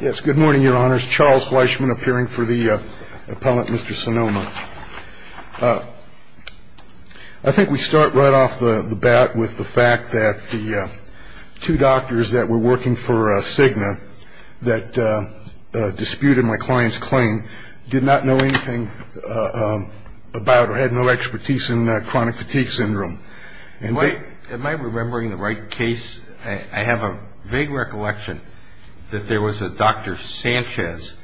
Yes, good morning, your honors. Charles Fleischman appearing for the appellant, Mr. Salomaa. I think we start right off the bat with the fact that the two doctors that were working for Cigna that disputed my client's claim did not know anything about or had no expertise in chronic fatigue syndrome. Am I remembering the right case? I have a vague recollection that there was a Dr. Sanchez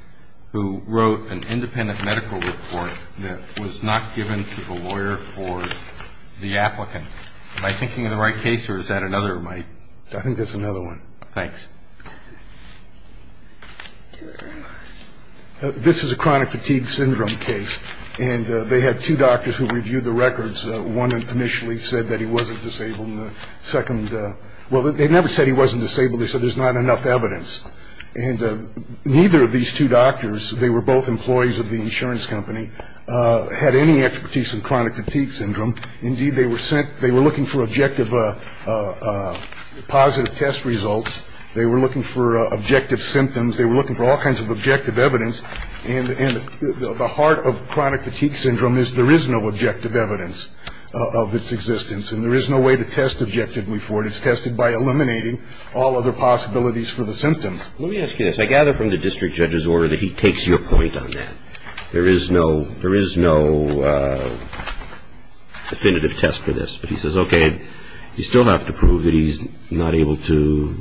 who wrote an independent medical report that was not given to the lawyer for the applicant. Am I thinking of the right case or is that another of my... I think that's another one. Thanks. Thank you very much. This is a chronic fatigue syndrome case and they had two doctors who reviewed the records. One initially said that he wasn't disabled and the second, well, they never said he wasn't disabled. They said there's not enough evidence. And neither of these two doctors, they were both employees of the insurance company, had any expertise in chronic fatigue syndrome. Indeed, they were looking for objective positive test results. They were looking for objective symptoms. They were looking for all kinds of objective evidence. And the heart of chronic fatigue syndrome is there is no objective evidence of its existence and there is no way to test objectively for it. It's tested by eliminating all other possibilities for the symptoms. Let me ask you this. I gather from the district judge's order that he takes your point on that. There is no definitive test for this. But he says, okay, you still have to prove that he's not able to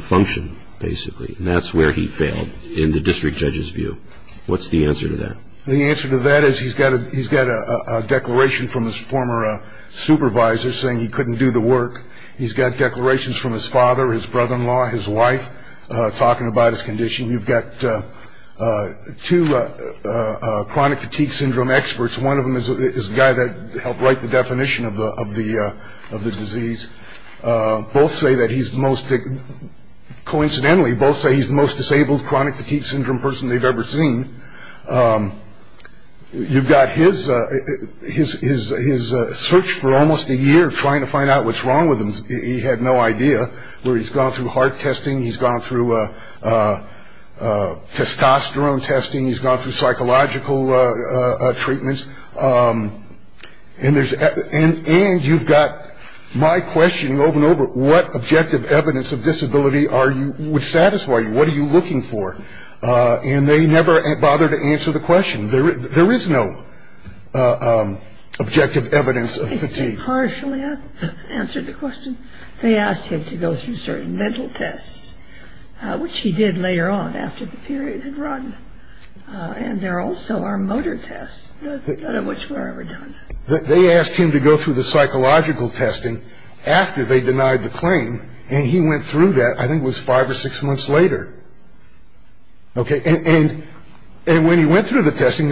function, basically. And that's where he failed in the district judge's view. What's the answer to that? The answer to that is he's got a declaration from his former supervisor saying he couldn't do the work. He's got declarations from his father, his brother-in-law, his wife talking about his condition. You've got two chronic fatigue syndrome experts. One of them is the guy that helped write the definition of the disease. Both say that he's the most, coincidentally, both say he's the most disabled chronic fatigue syndrome person they've ever seen. You've got his search for almost a year trying to find out what's wrong with him. He had no idea where he's gone through heart testing. He's gone through testosterone testing. He's gone through psychological treatments. And you've got my questioning over and over, what objective evidence of disability would satisfy you? What are you looking for? And they never bother to answer the question. There is no objective evidence of fatigue. They partially answered the question. They asked him to go through certain mental tests, which he did later on after the period had run. And there also are motor tests, none of which were ever done. They asked him to go through the psychological testing after they denied the claim. And he went through that, I think it was five or six months later. Okay. And when he went through the testing,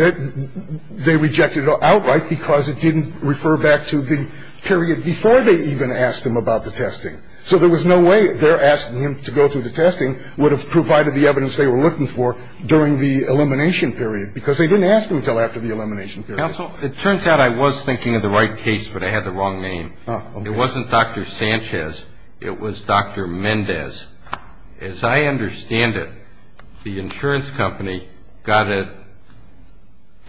they rejected it outright because it didn't refer back to the period before they even asked him about the testing. So there was no way their asking him to go through the testing would have provided the evidence they were looking for during the elimination period because they didn't ask him until after the elimination period. Counsel, it turns out I was thinking of the right case, but I had the wrong name. It wasn't Dr. Sanchez. It was Dr. Mendez. As I understand it, the insurance company got an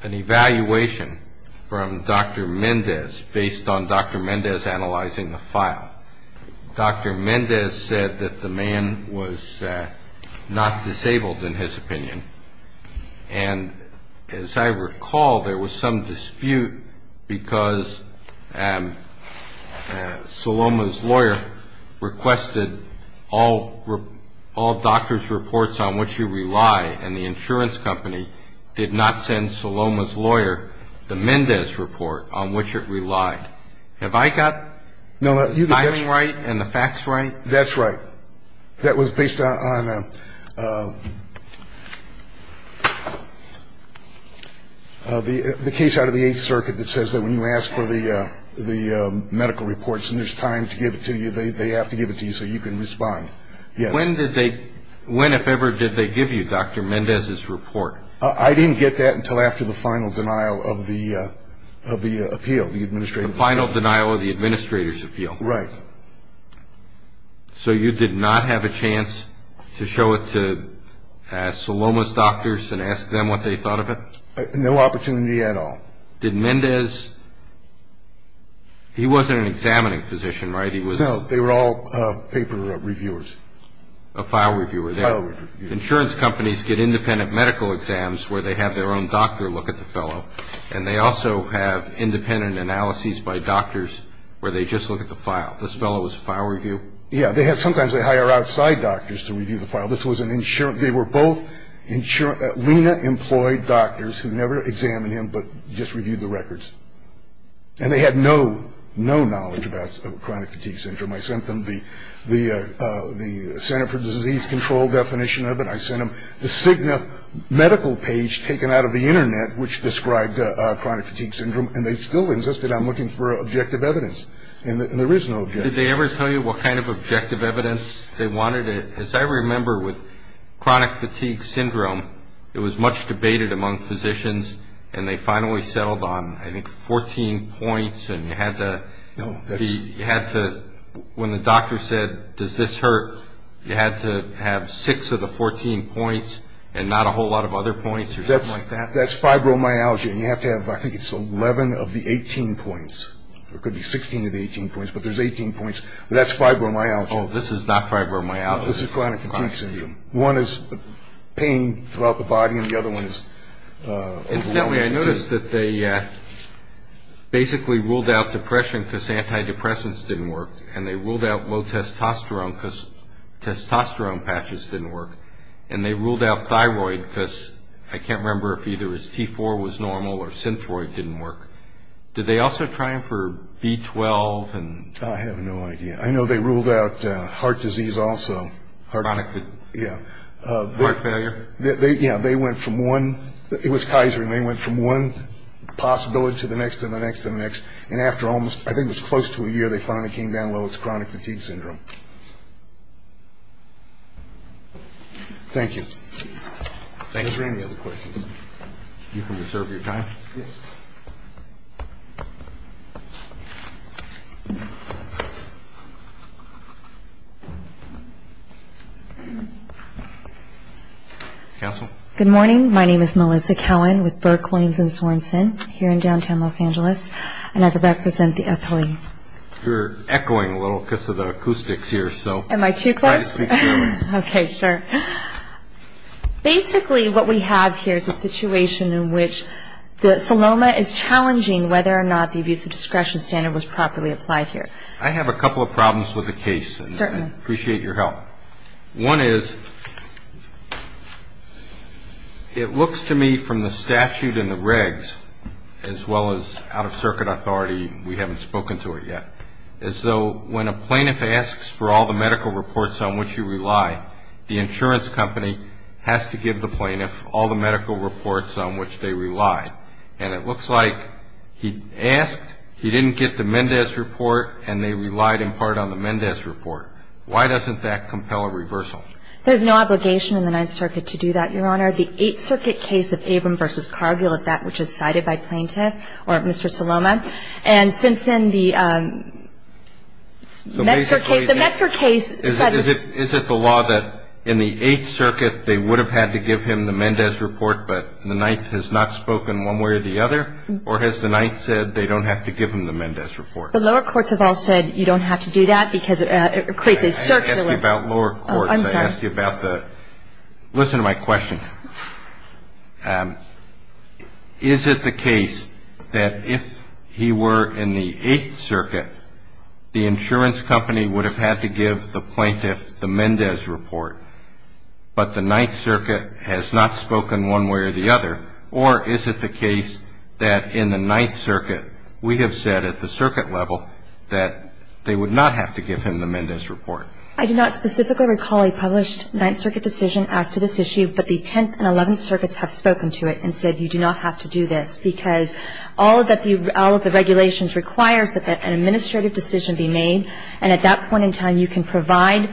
evaluation from Dr. Mendez based on Dr. Mendez analyzing the file. Dr. Mendez said that the man was not disabled, in his opinion. And as I recall, there was some dispute because Saloma's lawyer requested all doctor's reports on which you rely, and the insurance company did not send Saloma's lawyer the Mendez report on which it relied. Have I got the timing right and the facts right? That's right. That was based on the case out of the Eighth Circuit that says that when you ask for the medical reports and there's time to give it to you, they have to give it to you so you can respond. When, if ever, did they give you Dr. Mendez's report? I didn't get that until after the final denial of the appeal, the administrative appeal. The final denial of the administrator's appeal. Right. So you did not have a chance to show it to Saloma's doctors and ask them what they thought of it? No opportunity at all. Did Mendez, he wasn't an examining physician, right? No, they were all paper reviewers. A file reviewer. A file reviewer. Insurance companies get independent medical exams where they have their own doctor look at the fellow, and they also have independent analyses by doctors where they just look at the file. This fellow was a file review? Yeah. Sometimes they hire outside doctors to review the file. This was an insurance. They were both insurance. Lena employed doctors who never examined him but just reviewed the records, and they had no knowledge about chronic fatigue syndrome. I sent them the Center for Disease Control definition of it. I sent them the Cigna medical page taken out of the Internet, which described chronic fatigue syndrome, and they still insisted on looking for objective evidence, and there is no objective evidence. Did they ever tell you what kind of objective evidence they wanted? As I remember, with chronic fatigue syndrome, it was much debated among physicians, and they finally settled on, I think, 14 points, and you had to, when the doctor said, does this hurt, you had to have six of the 14 points and not a whole lot of other points or something like that? That's fibromyalgia, and you have to have, I think it's 11 of the 18 points. It could be 16 of the 18 points, but there's 18 points. That's fibromyalgia. Oh, this is not fibromyalgia. This is chronic fatigue syndrome. One is pain throughout the body, and the other one is overwhelming fatigue. Incidentally, I noticed that they basically ruled out depression because antidepressants didn't work, and they ruled out low testosterone because testosterone patches didn't work, and they ruled out thyroid because I can't remember if either T4 was normal or synthroid didn't work. Did they also try for B12? I have no idea. I know they ruled out heart disease also. Chronic fatigue. Yeah. Heart failure. Yeah, they went from one. It was Kaiser, and they went from one possibility to the next and the next and the next, and after almost, I think it was close to a year, they finally came down low. It's chronic fatigue syndrome. Thank you. Thank you. Are there any other questions? You can reserve your time. Yes. Thank you. Counsel. Good morning. My name is Melissa Cowan with Burke, Waynes, and Sorensen here in downtown Los Angeles, and I represent the FLE. You're echoing a little because of the acoustics here, so try to speak clearly. Am I too close? Okay, sure. Basically, what we have here is a situation in which the Sonoma is challenging whether or not the abusive discretion standard was properly applied here. I have a couple of problems with the case. Certainly. I appreciate your help. One is it looks to me from the statute and the regs, as well as out-of-circuit authority, we haven't spoken to it yet, as though when a plaintiff asks for all the medical reports on which you rely, the insurance company has to give the plaintiff all the medical reports on which they rely, and it looks like he asked, he didn't get the Mendez report, and they relied in part on the Mendez report. Why doesn't that compel a reversal? There's no obligation in the Ninth Circuit to do that, Your Honor. The Eighth Circuit case of Abram v. Cargill is that which is cited by plaintiff or Mr. Saloma, and since then, the Metzger case, the Metzger case. Is it the law that in the Eighth Circuit they would have had to give him the Mendez report, but the Ninth has not spoken one way or the other, or has the Ninth said they don't have to give him the Mendez report? The lower courts have all said you don't have to do that because it creates a circuit. I asked you about lower courts. I asked you about the – listen to my question. Is it the case that if he were in the Eighth Circuit, the insurance company would have had to give the plaintiff the Mendez report, but the Ninth Circuit has not spoken one way or the other, or is it the case that in the Ninth Circuit we have said at the circuit level that they would not have to give him the Mendez report? I do not specifically recall a published Ninth Circuit decision as to this issue, but the Tenth and Eleventh Circuits have spoken to it and said you do not have to do this, because all of the regulations requires that an administrative decision be made, and at that point in time you can provide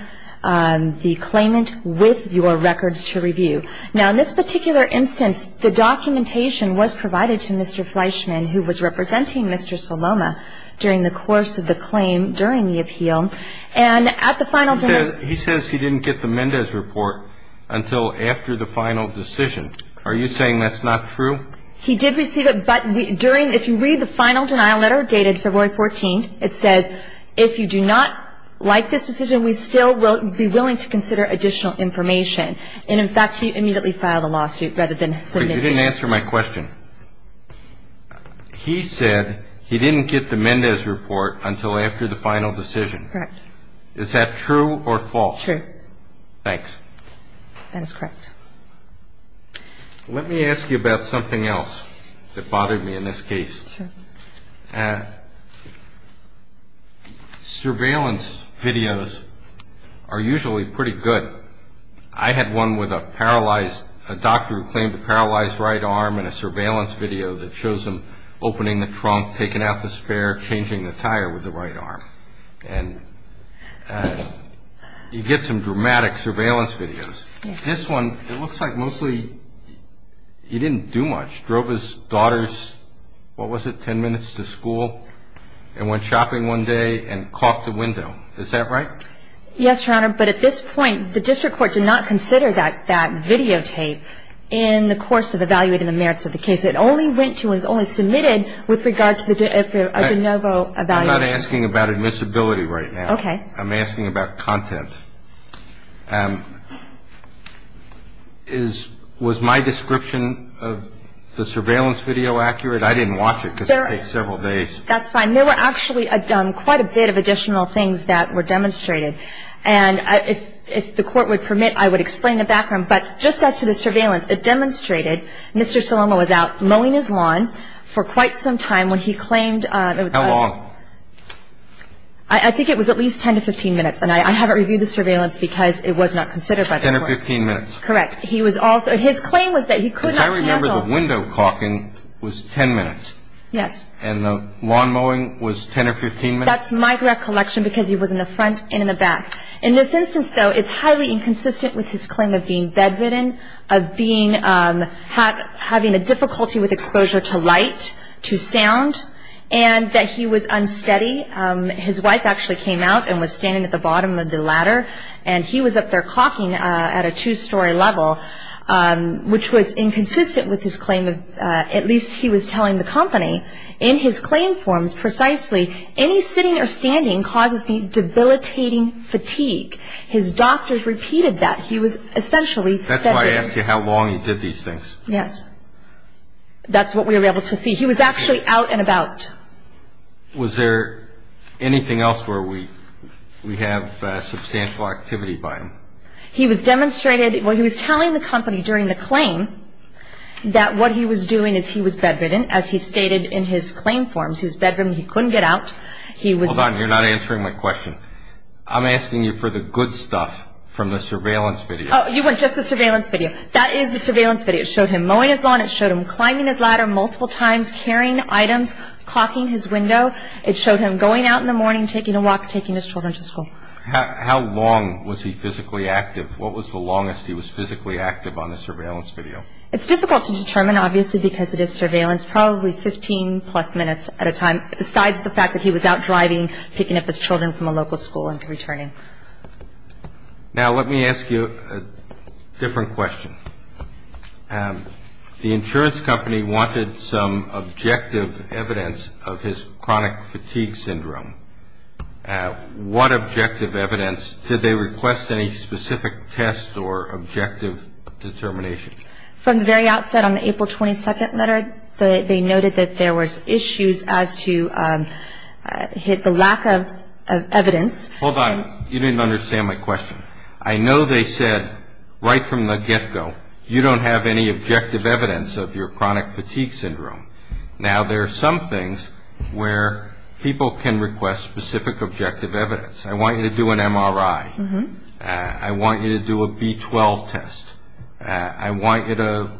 the claimant with your records to review. Now, in this particular instance, the documentation was provided to Mr. Fleischman, who was representing Mr. Saloma during the course of the claim during the appeal, and at the final – He says he didn't get the Mendez report until after the final decision. Are you saying that's not true? He did receive it, but during – if you read the final denial letter dated February 14th, it says if you do not like this decision, we still will be willing to consider additional information. And, in fact, he immediately filed a lawsuit rather than submit it. But you didn't answer my question. He said he didn't get the Mendez report until after the final decision. Correct. Is that true or false? True. Thanks. That is correct. Let me ask you about something else that bothered me in this case. Sure. Surveillance videos are usually pretty good. I had one with a paralyzed – a doctor who claimed a paralyzed right arm in a surveillance video that shows him opening the trunk, taking out the spare, changing the tire with the right arm. And you get some dramatic surveillance videos. This one, it looks like mostly he didn't do much. Drove his daughter's – what was it, 10 minutes to school? And went shopping one day and caught the window. Is that right? Yes, Your Honor, but at this point, the district court did not consider that videotape in the course of evaluating the merits of the case. It only went to and was only submitted with regard to the de novo evaluation. I'm not asking about admissibility right now. Okay. I'm asking about content. Was my description of the surveillance video accurate? I didn't watch it because it takes several days. That's fine. There were actually quite a bit of additional things that were demonstrated. And if the court would permit, I would explain the background. But just as to the surveillance, it demonstrated Mr. Salomo was out mowing his lawn for quite some time when he claimed – How long? I think it was at least 10 to 15 minutes. And I haven't reviewed the surveillance because it was not considered by the court. 10 or 15 minutes. Correct. He was also – his claim was that he could not handle – Because I remember the window caulking was 10 minutes. Yes. And the lawn mowing was 10 or 15 minutes? That's my recollection because he was in the front and in the back. In this instance, though, it's highly inconsistent with his claim of being bedridden, of having a difficulty with exposure to light, to sound, and that he was unsteady. His wife actually came out and was standing at the bottom of the ladder, and he was up there caulking at a two-story level, which was inconsistent with his claim of – at least he was telling the company in his claim forms precisely, any sitting or standing causes me debilitating fatigue. His doctors repeated that. He was essentially bedridden. That's why I asked you how long he did these things. Yes. That's what we were able to see. He was actually out and about. Was there anything else where we have substantial activity by him? He was demonstrated – well, he was telling the company during the claim that what he was doing is he was bedridden, as he stated in his claim forms. He was bedridden. He couldn't get out. He was – Hold on. You're not answering my question. I'm asking you for the good stuff from the surveillance video. Oh, you want just the surveillance video. That is the surveillance video. It showed him mowing his lawn. It showed him climbing his ladder multiple times, carrying items, clocking his window. It showed him going out in the morning, taking a walk, taking his children to school. How long was he physically active? What was the longest he was physically active on the surveillance video? It's difficult to determine, obviously, because it is surveillance. Probably 15-plus minutes at a time, besides the fact that he was out driving, picking up his children from a local school and returning. Now, let me ask you a different question. The insurance company wanted some objective evidence of his chronic fatigue syndrome. What objective evidence? Did they request any specific test or objective determination? From the very outset, on the April 22nd letter, they noted that there were issues as to the lack of evidence. Hold on. You didn't understand my question. I know they said right from the get-go, you don't have any objective evidence of your chronic fatigue syndrome. Now, there are some things where people can request specific objective evidence. I want you to do an MRI. I want you to do a B12 test. I want you to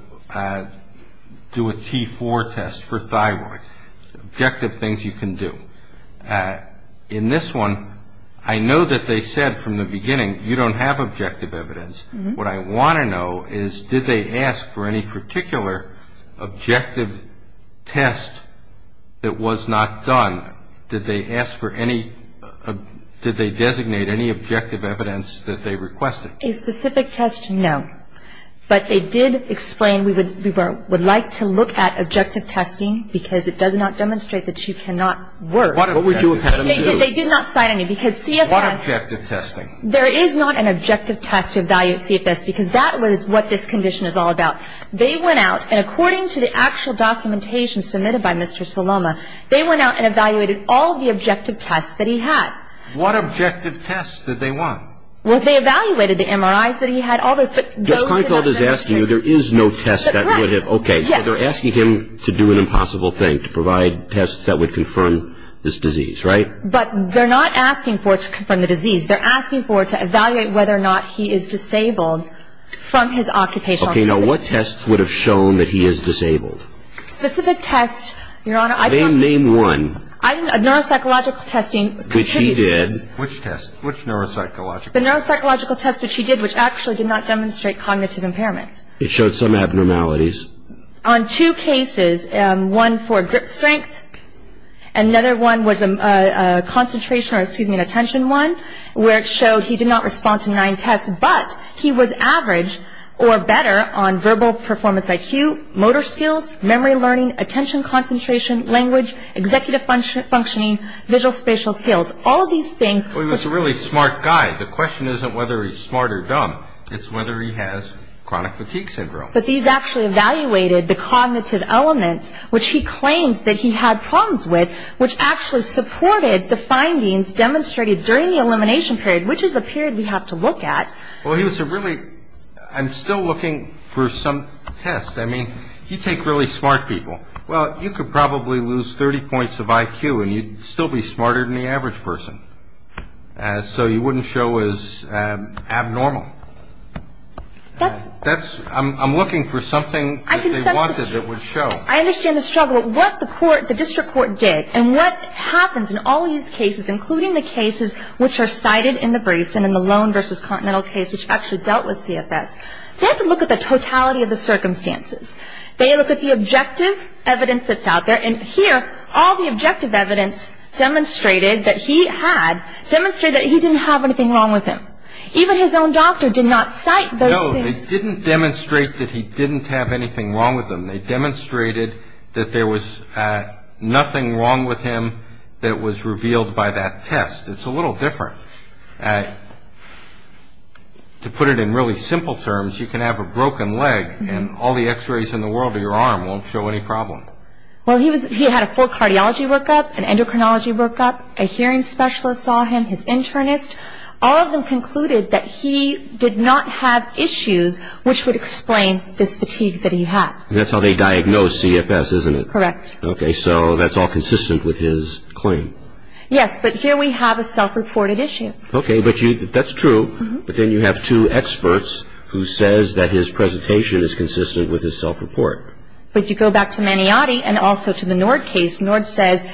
do a T4 test for thyroid. Objective things you can do. In this one, I know that they said from the beginning, you don't have objective evidence. What I want to know is did they ask for any particular objective test that was not done? Did they ask for any – did they designate any objective evidence that they requested? A specific test, no. But they did explain we would like to look at objective testing because it does not demonstrate that you cannot work. What would you have had them do? They did not cite any because CFS – What objective testing? There is not an objective test to evaluate CFS because that was what this condition is all about. They went out, and according to the actual documentation submitted by Mr. Saloma, they went out and evaluated all the objective tests that he had. What objective tests did they want? Well, they evaluated the MRIs that he had, all this, but those did not – Judge Karnfeld is asking you there is no test that would have – Right. Okay. Yes. They're asking him to do an impossible thing, to provide tests that would confirm this disease, right? But they're not asking for it to confirm the disease. They're asking for it to evaluate whether or not he is disabled from his occupational activity. Okay. Now, what tests would have shown that he is disabled? Specific tests, Your Honor, I don't – Name one. Neuropsychological testing contributes to this. Which he did. Which test? Which neuropsychological test? The neuropsychological test which he did, which actually did not demonstrate cognitive impairment. It showed some abnormalities. On two cases, one for grip strength, another one was a concentration or, excuse me, an attention one, where it showed he did not respond to nine tests, but he was average or better on verbal performance IQ, motor skills, memory learning, attention concentration, language, executive functioning, visual-spatial skills, all of these things. Well, he was a really smart guy. The question isn't whether he's smart or dumb. It's whether he has chronic fatigue syndrome. But these actually evaluated the cognitive elements, which he claims that he had problems with, which actually supported the findings demonstrated during the elimination period, which is a period we have to look at. Well, he was a really – I'm still looking for some test. I mean, you take really smart people. Well, you could probably lose 30 points of IQ and you'd still be smarter than the average person. So you wouldn't show as abnormal. That's – I'm looking for something that they wanted that would show. I understand the struggle. What the court, the district court did and what happens in all these cases, including the cases which are cited in the briefs and in the loan versus continental case, which actually dealt with CFS, they have to look at the totality of the circumstances. They look at the objective evidence that's out there. And here, all the objective evidence demonstrated that he had, demonstrated that he didn't have anything wrong with him. Even his own doctor did not cite those things. They didn't demonstrate that he didn't have anything wrong with him. They demonstrated that there was nothing wrong with him that was revealed by that test. It's a little different. To put it in really simple terms, you can have a broken leg and all the x-rays in the world of your arm won't show any problem. Well, he had a full cardiology workup, an endocrinology workup. A hearing specialist saw him, his internist. All of them concluded that he did not have issues which would explain this fatigue that he had. And that's how they diagnosed CFS, isn't it? Correct. Okay. So that's all consistent with his claim. But here we have a self-reported issue. Okay. But that's true. But then you have two experts who says that his presentation is consistent with his self-report. But you go back to Maniotti and also to the Nord case. Nord says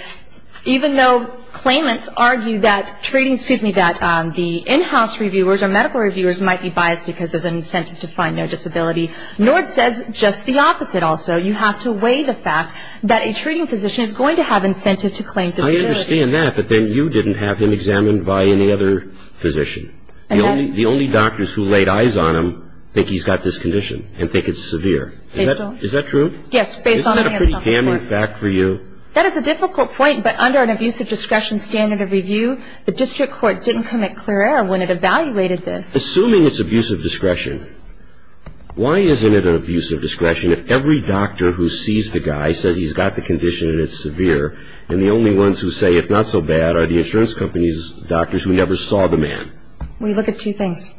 even though claimants argue that the in-house reviewers or medical reviewers might be biased because there's an incentive to find their disability, Nord says just the opposite also. You have to weigh the fact that a treating physician is going to have incentive to claim disability. I understand that, but then you didn't have him examined by any other physician. The only doctors who laid eyes on him think he's got this condition and think it's severe. Is that true? Yes, based on the self-report. Isn't that a pretty damning fact for you? That is a difficult point, but under an abusive discretion standard of review, the district court didn't commit clear error when it evaluated this. Assuming it's abusive discretion, why isn't it an abusive discretion if every doctor who sees the guy says he's got the condition and it's severe, and the only ones who say it's not so bad are the insurance company's doctors who never saw the man? We look at two things.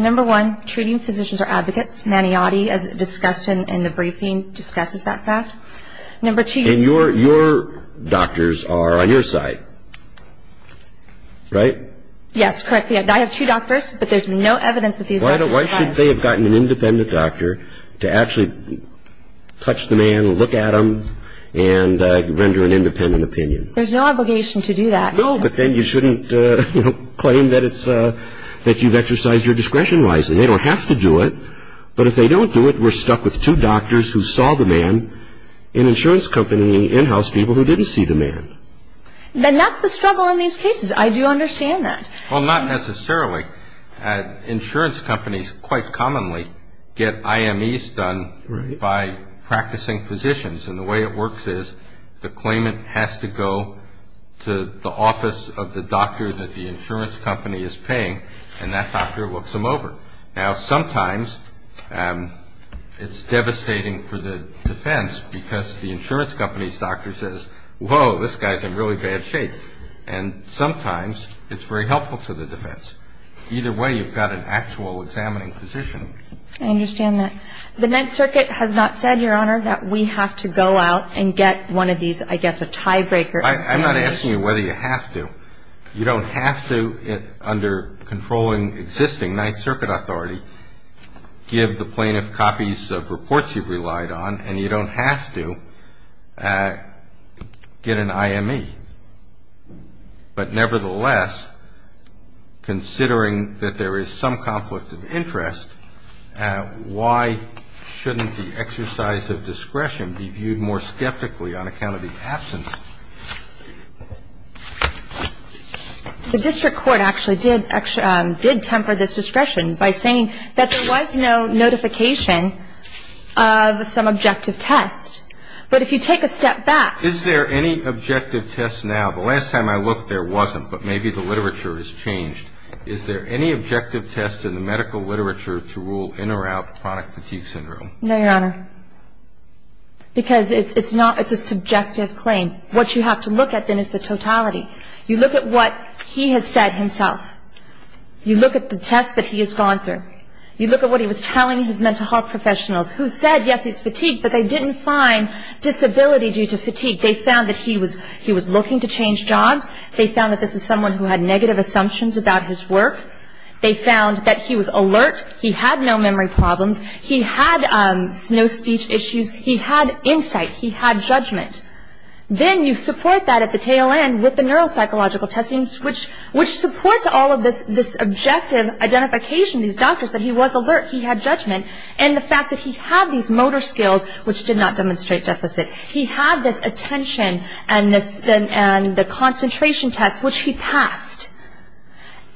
Number one, treating physicians are advocates. Maniotti, as discussed in the briefing, discusses that fact. And your doctors are on your side, right? Yes, correctly. I have two doctors, but there's no evidence that these doctors are. Why should they have gotten an independent doctor to actually touch the man, look at him, and render an independent opinion? There's no obligation to do that. No, but then you shouldn't claim that you've exercised your discretion wisely. They don't have to do it, but if they don't do it, then we're stuck with two doctors who saw the man, an insurance company and in-house people who didn't see the man. Then that's the struggle in these cases. I do understand that. Well, not necessarily. Insurance companies quite commonly get IMEs done by practicing physicians, and the way it works is the claimant has to go to the office of the doctor that the insurance company is paying, and that doctor looks them over. Now, sometimes it's devastating for the defense because the insurance company's doctor says, whoa, this guy's in really bad shape. And sometimes it's very helpful to the defense. Either way, you've got an actual examining physician. I understand that. The Ninth Circuit has not said, Your Honor, that we have to go out and get one of these, I guess, a tiebreaker examination. I'm not asking you whether you have to. You don't have to, under controlling existing Ninth Circuit authority, give the plaintiff copies of reports you've relied on, and you don't have to get an IME. But nevertheless, considering that there is some conflict of interest, why shouldn't the exercise of discretion be viewed more skeptically on account of the absence? The district court actually did temper this discretion by saying that there was no notification of some objective test. But if you take a step back. Is there any objective test now? The last time I looked, there wasn't, but maybe the literature has changed. Is there any objective test in the medical literature to rule in or out chronic fatigue syndrome? No, Your Honor, because it's a subjective claim. What you have to look at, then, is the totality. You look at what he has said himself. You look at the tests that he has gone through. You look at what he was telling his mental health professionals, who said, yes, he's fatigued, but they didn't find disability due to fatigue. They found that he was looking to change jobs. They found that this is someone who had negative assumptions about his work. They found that he was alert. He had no memory problems. He had no speech issues. He had insight. He had judgment. Then you support that at the tail end with the neuropsychological testing, which supports all of this objective identification, these doctors, that he was alert. He had judgment. And the fact that he had these motor skills, which did not demonstrate deficit. He had this attention and the concentration test, which he passed.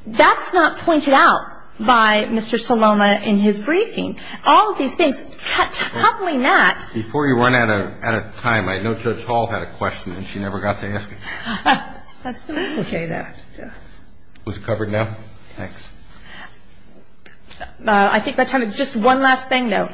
That's not pointed out by Mr. Saloma in his briefing. All of these things, coupling that. Before you run out of time, I know Judge Hall had a question, and she never got to ask it. That's the way to say that. Was it covered now? Yes. Thanks. I think by the time it's just one last thing, though.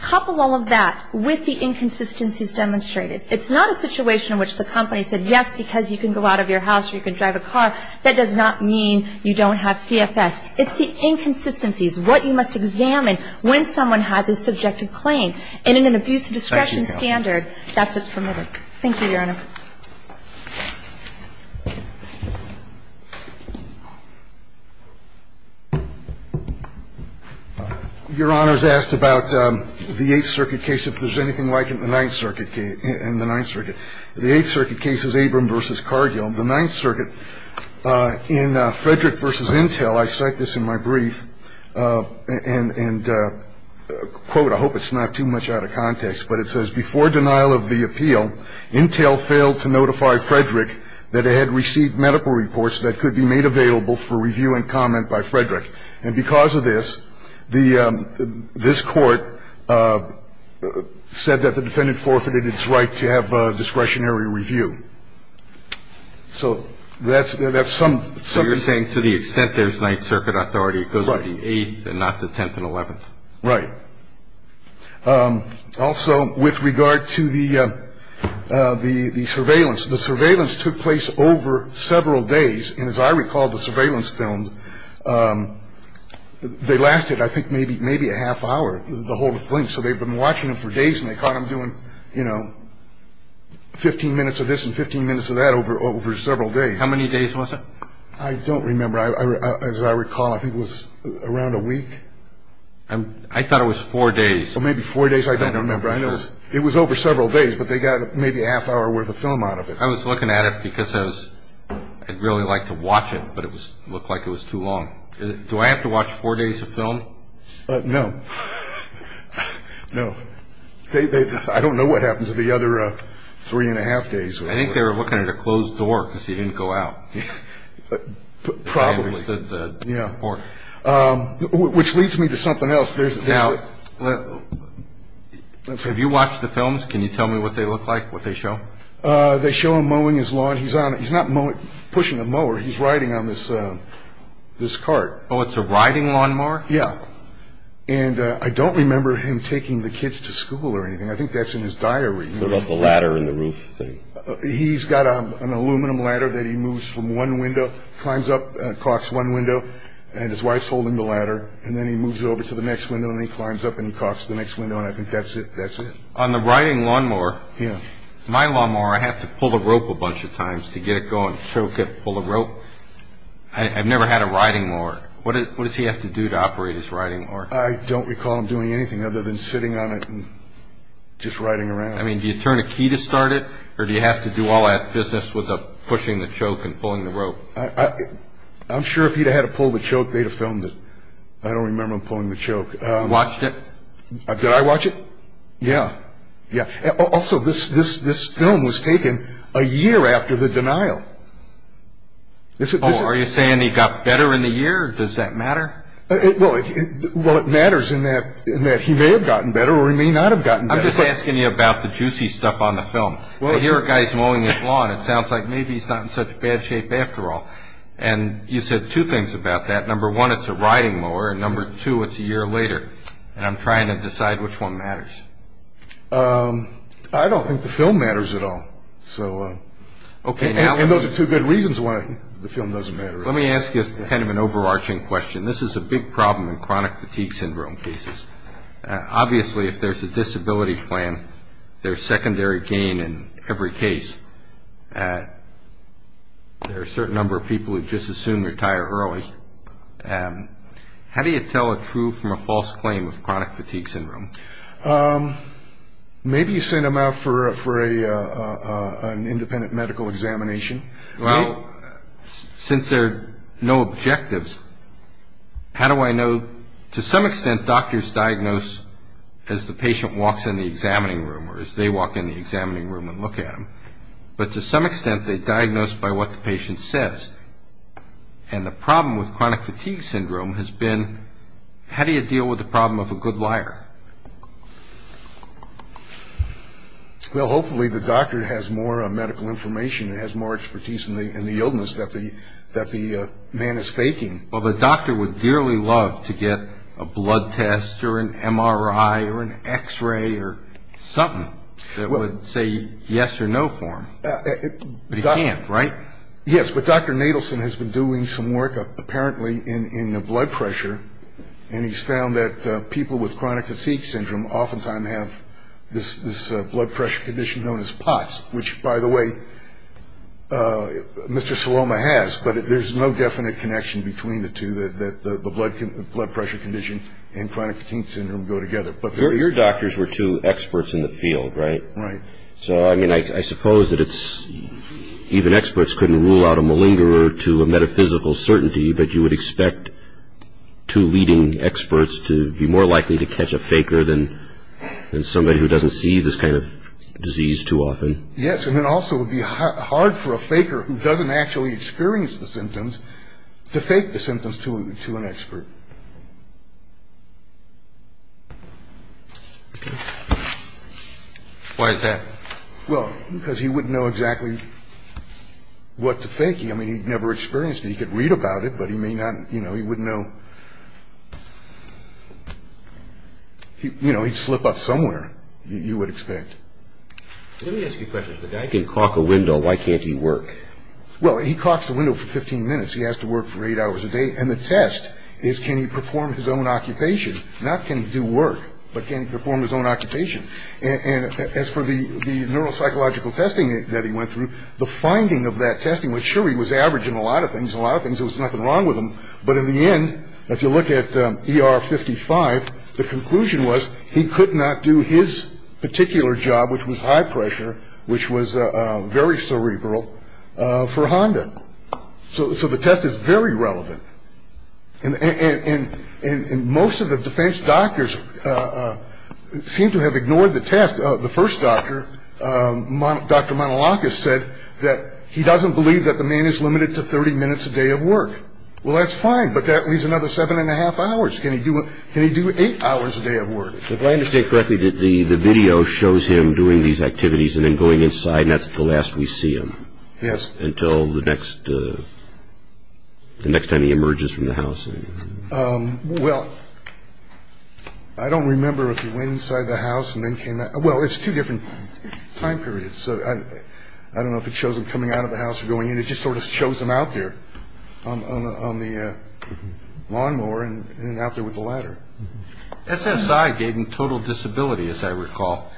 Coupled all of that with the inconsistencies demonstrated. It's not a situation in which the company said yes, because you can go out of your house or you can drive a car. That does not mean you don't have CFS. It's the inconsistencies, what you must examine when someone has a subjective claim. And in an abuse of discretion standard, that's what's permitted. Thank you, Your Honor. Thank you, Your Honor. Your Honor's asked about the Eighth Circuit case, if there's anything like it in the Ninth Circuit case. In the Ninth Circuit, the Eighth Circuit case is Abram v. Cargill. In the Ninth Circuit, in Frederick v. Intel, I cite this in my brief, and, quote, I hope it's not too much out of context, but it says, Before denial of the appeal, Intel failed to notify Frederick that it had received medical reports that could be made available for review and comment by Frederick. And because of this, this Court said that the defendant forfeited its right to have discretionary review. So that's some of it. So you're saying to the extent there's Ninth Circuit authority, it goes to the Eighth and not the Tenth and Eleventh. Right. Also, with regard to the surveillance, the surveillance took place over several days. And as I recall, the surveillance filmed, they lasted, I think, maybe a half hour, the whole thing. So they've been watching them for days, and they caught them doing, you know, 15 minutes of this and 15 minutes of that over several days. How many days was it? I don't remember. As I recall, I think it was around a week. I thought it was four days. Well, maybe four days. I don't remember. It was over several days, but they got maybe a half hour worth of film out of it. I was looking at it because I was, I'd really like to watch it, but it looked like it was too long. Do I have to watch four days of film? No. No. I don't know what happened to the other three and a half days. I think they were looking at a closed door because he didn't go out. Probably. Yeah. Which leads me to something else. Now, have you watched the films? Can you tell me what they look like, what they show? They show him mowing his lawn. He's not pushing a mower. He's riding on this cart. Oh, it's a riding lawnmower? Yeah. And I don't remember him taking the kids to school or anything. I think that's in his diary. What about the ladder and the roof thing? He's got an aluminum ladder that he moves from one window, climbs up, and it clocks one window, and his wife's holding the ladder, and then he moves over to the next window, and he climbs up, and he clocks the next window, and I think that's it. That's it. On the riding lawnmower, my lawnmower, I have to pull a rope a bunch of times to get it going, choke it, pull the rope. I've never had a riding mower. What does he have to do to operate his riding mower? I don't recall him doing anything other than sitting on it and just riding around. I mean, do you turn a key to start it, or do you have to do all that business with pushing the choke and pulling the rope? I'm sure if he'd had to pull the choke, they'd have filmed it. I don't remember him pulling the choke. You watched it? Did I watch it? Yeah, yeah. Also, this film was taken a year after the denial. Oh, are you saying he got better in the year, or does that matter? Well, it matters in that he may have gotten better or he may not have gotten better. I'm just asking you about the juicy stuff on the film. I hear a guy's mowing his lawn. It sounds like maybe he's not in such bad shape after all. And you said two things about that. Number one, it's a riding mower, and number two, it's a year later. And I'm trying to decide which one matters. I don't think the film matters at all. And those are two good reasons why the film doesn't matter. Let me ask you kind of an overarching question. This is a big problem in chronic fatigue syndrome cases. Obviously, if there's a disability plan, there's secondary gain in every case. There are a certain number of people who just assume they retire early. How do you tell a true from a false claim of chronic fatigue syndrome? Maybe you send them out for an independent medical examination. Well, since there are no objectives, how do I know? Well, to some extent, doctors diagnose as the patient walks in the examining room or as they walk in the examining room and look at them. But to some extent, they diagnose by what the patient says. And the problem with chronic fatigue syndrome has been how do you deal with the problem of a good liar? Well, hopefully the doctor has more medical information and has more expertise in the illness that the man is faking. Well, the doctor would dearly love to get a blood test or an MRI or an X-ray or something that would say yes or no for him. But he can't, right? Yes, but Dr. Nadelson has been doing some work apparently in blood pressure, and he's found that people with chronic fatigue syndrome oftentimes have this blood pressure condition known as POTS, which, by the way, Mr. Saloma has. But there's no definite connection between the two, that the blood pressure condition and chronic fatigue syndrome go together. Your doctors were two experts in the field, right? Right. So, I mean, I suppose that even experts couldn't rule out a malingerer to a metaphysical certainty, but you would expect two leading experts to be more likely to catch a faker than somebody who doesn't see this kind of disease too often. Yes, and then also it would be hard for a faker who doesn't actually experience the symptoms to fake the symptoms to an expert. Why is that? Well, because he wouldn't know exactly what to fake. I mean, he'd never experienced it. He could read about it, but he may not, you know, he wouldn't know. You know, he'd slip up somewhere, you would expect. Let me ask you a question. If a guy can caulk a window, why can't he work? Well, he caulks a window for 15 minutes. He has to work for eight hours a day, and the test is can he perform his own occupation? Not can he do work, but can he perform his own occupation? And as for the neuropsychological testing that he went through, the finding of that testing was sure he was averaging a lot of things, there was nothing wrong with him, but in the end, if you look at ER 55, the conclusion was he could not do his particular job, which was high pressure, which was very cerebral, for Honda. So the test is very relevant. And most of the defense doctors seem to have ignored the test. The first doctor, Dr. Manolakis, said that he doesn't believe that the man is limited to 30 minutes a day of work. Well, that's fine, but that leaves another seven and a half hours. Can he do eight hours a day of work? If I understand correctly, the video shows him doing these activities and then going inside, and that's the last we see him until the next time he emerges from the house. Well, I don't remember if he went inside the house and then came out. Well, it's two different time periods, so I don't know if it shows him coming out of the house or going in. It just sort of shows him out there on the lawnmower and out there with the ladder. SSI gave him total disability, as I recall,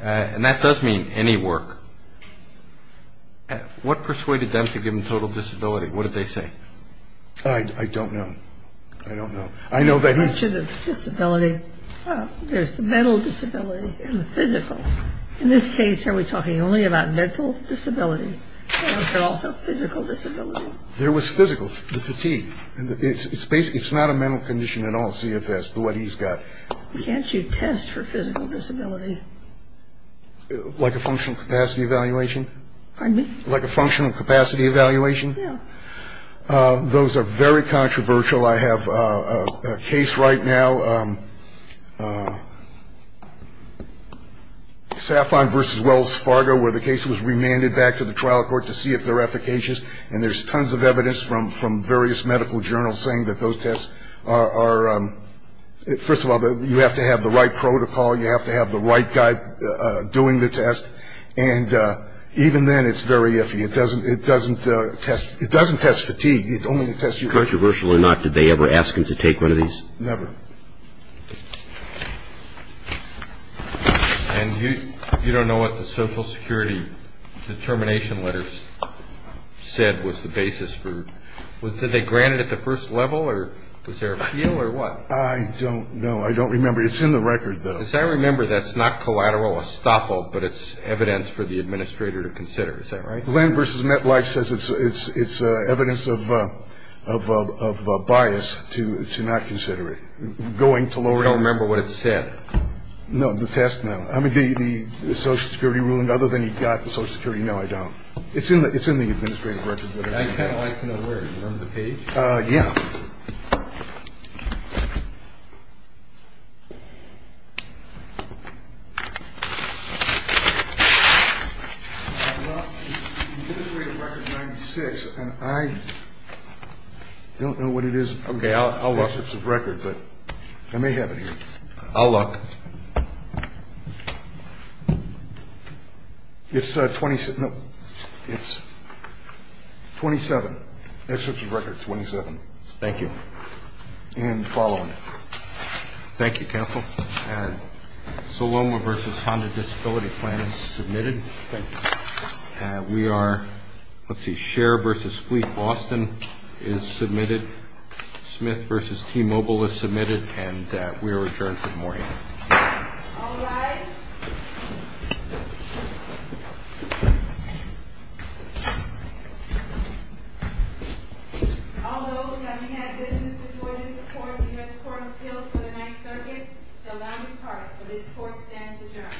and that does mean any work. What persuaded them to give him total disability? What did they say? I don't know. I don't know. I know that he... You mentioned disability. There's the mental disability and the physical. In this case, are we talking only about mental disability, but also physical disability? There was physical, the fatigue. It's not a mental condition at all, CFS, what he's got. Can't you test for physical disability? Like a functional capacity evaluation? Pardon me? Like a functional capacity evaluation? Yeah. Those are very controversial. I have a case right now, Saffron v. Wells Fargo, where the case was remanded back to the trial court to see if they're efficacious, and there's tons of evidence from various medical journals saying that those tests are... First of all, you have to have the right protocol. You have to have the right guy doing the test, and even then, it's very iffy. It doesn't test fatigue. It only tests your... Controversial or not, did they ever ask him to take one of these? Never. And you don't know what the Social Security determination letters said was the basis for... Did they grant it at the first level, or was there an appeal, or what? I don't know. I don't remember. It's in the record, though. As I remember, that's not collateral estoppel, but it's evidence for the administrator to consider. Is that right? Glenn v. Metlife says it's evidence of bias to not consider it, going to lower... I don't remember what it said. No, the test, no. I mean, the Social Security ruling, other than he got the Social Security, no, I don't. It's in the administrative record. I'd kind of like to know where. Do you remember the page? Yeah. The administrative record is 96, and I don't know what it is. Okay, I'll look. I may have it here. I'll look. It's 27. Administrative record, 27. Thank you. And the following. Thank you, counsel. And Soloma v. Honda Disability Plan is submitted. Thank you. And we are, let's see, Share v. Fleet Boston is submitted. Smith v. T-Mobile is submitted, and we are adjourned for the morning. All rise. All those having had business before this court in the U.S. Court of Appeals for the 9th Circuit shall now depart for this court stands adjourned.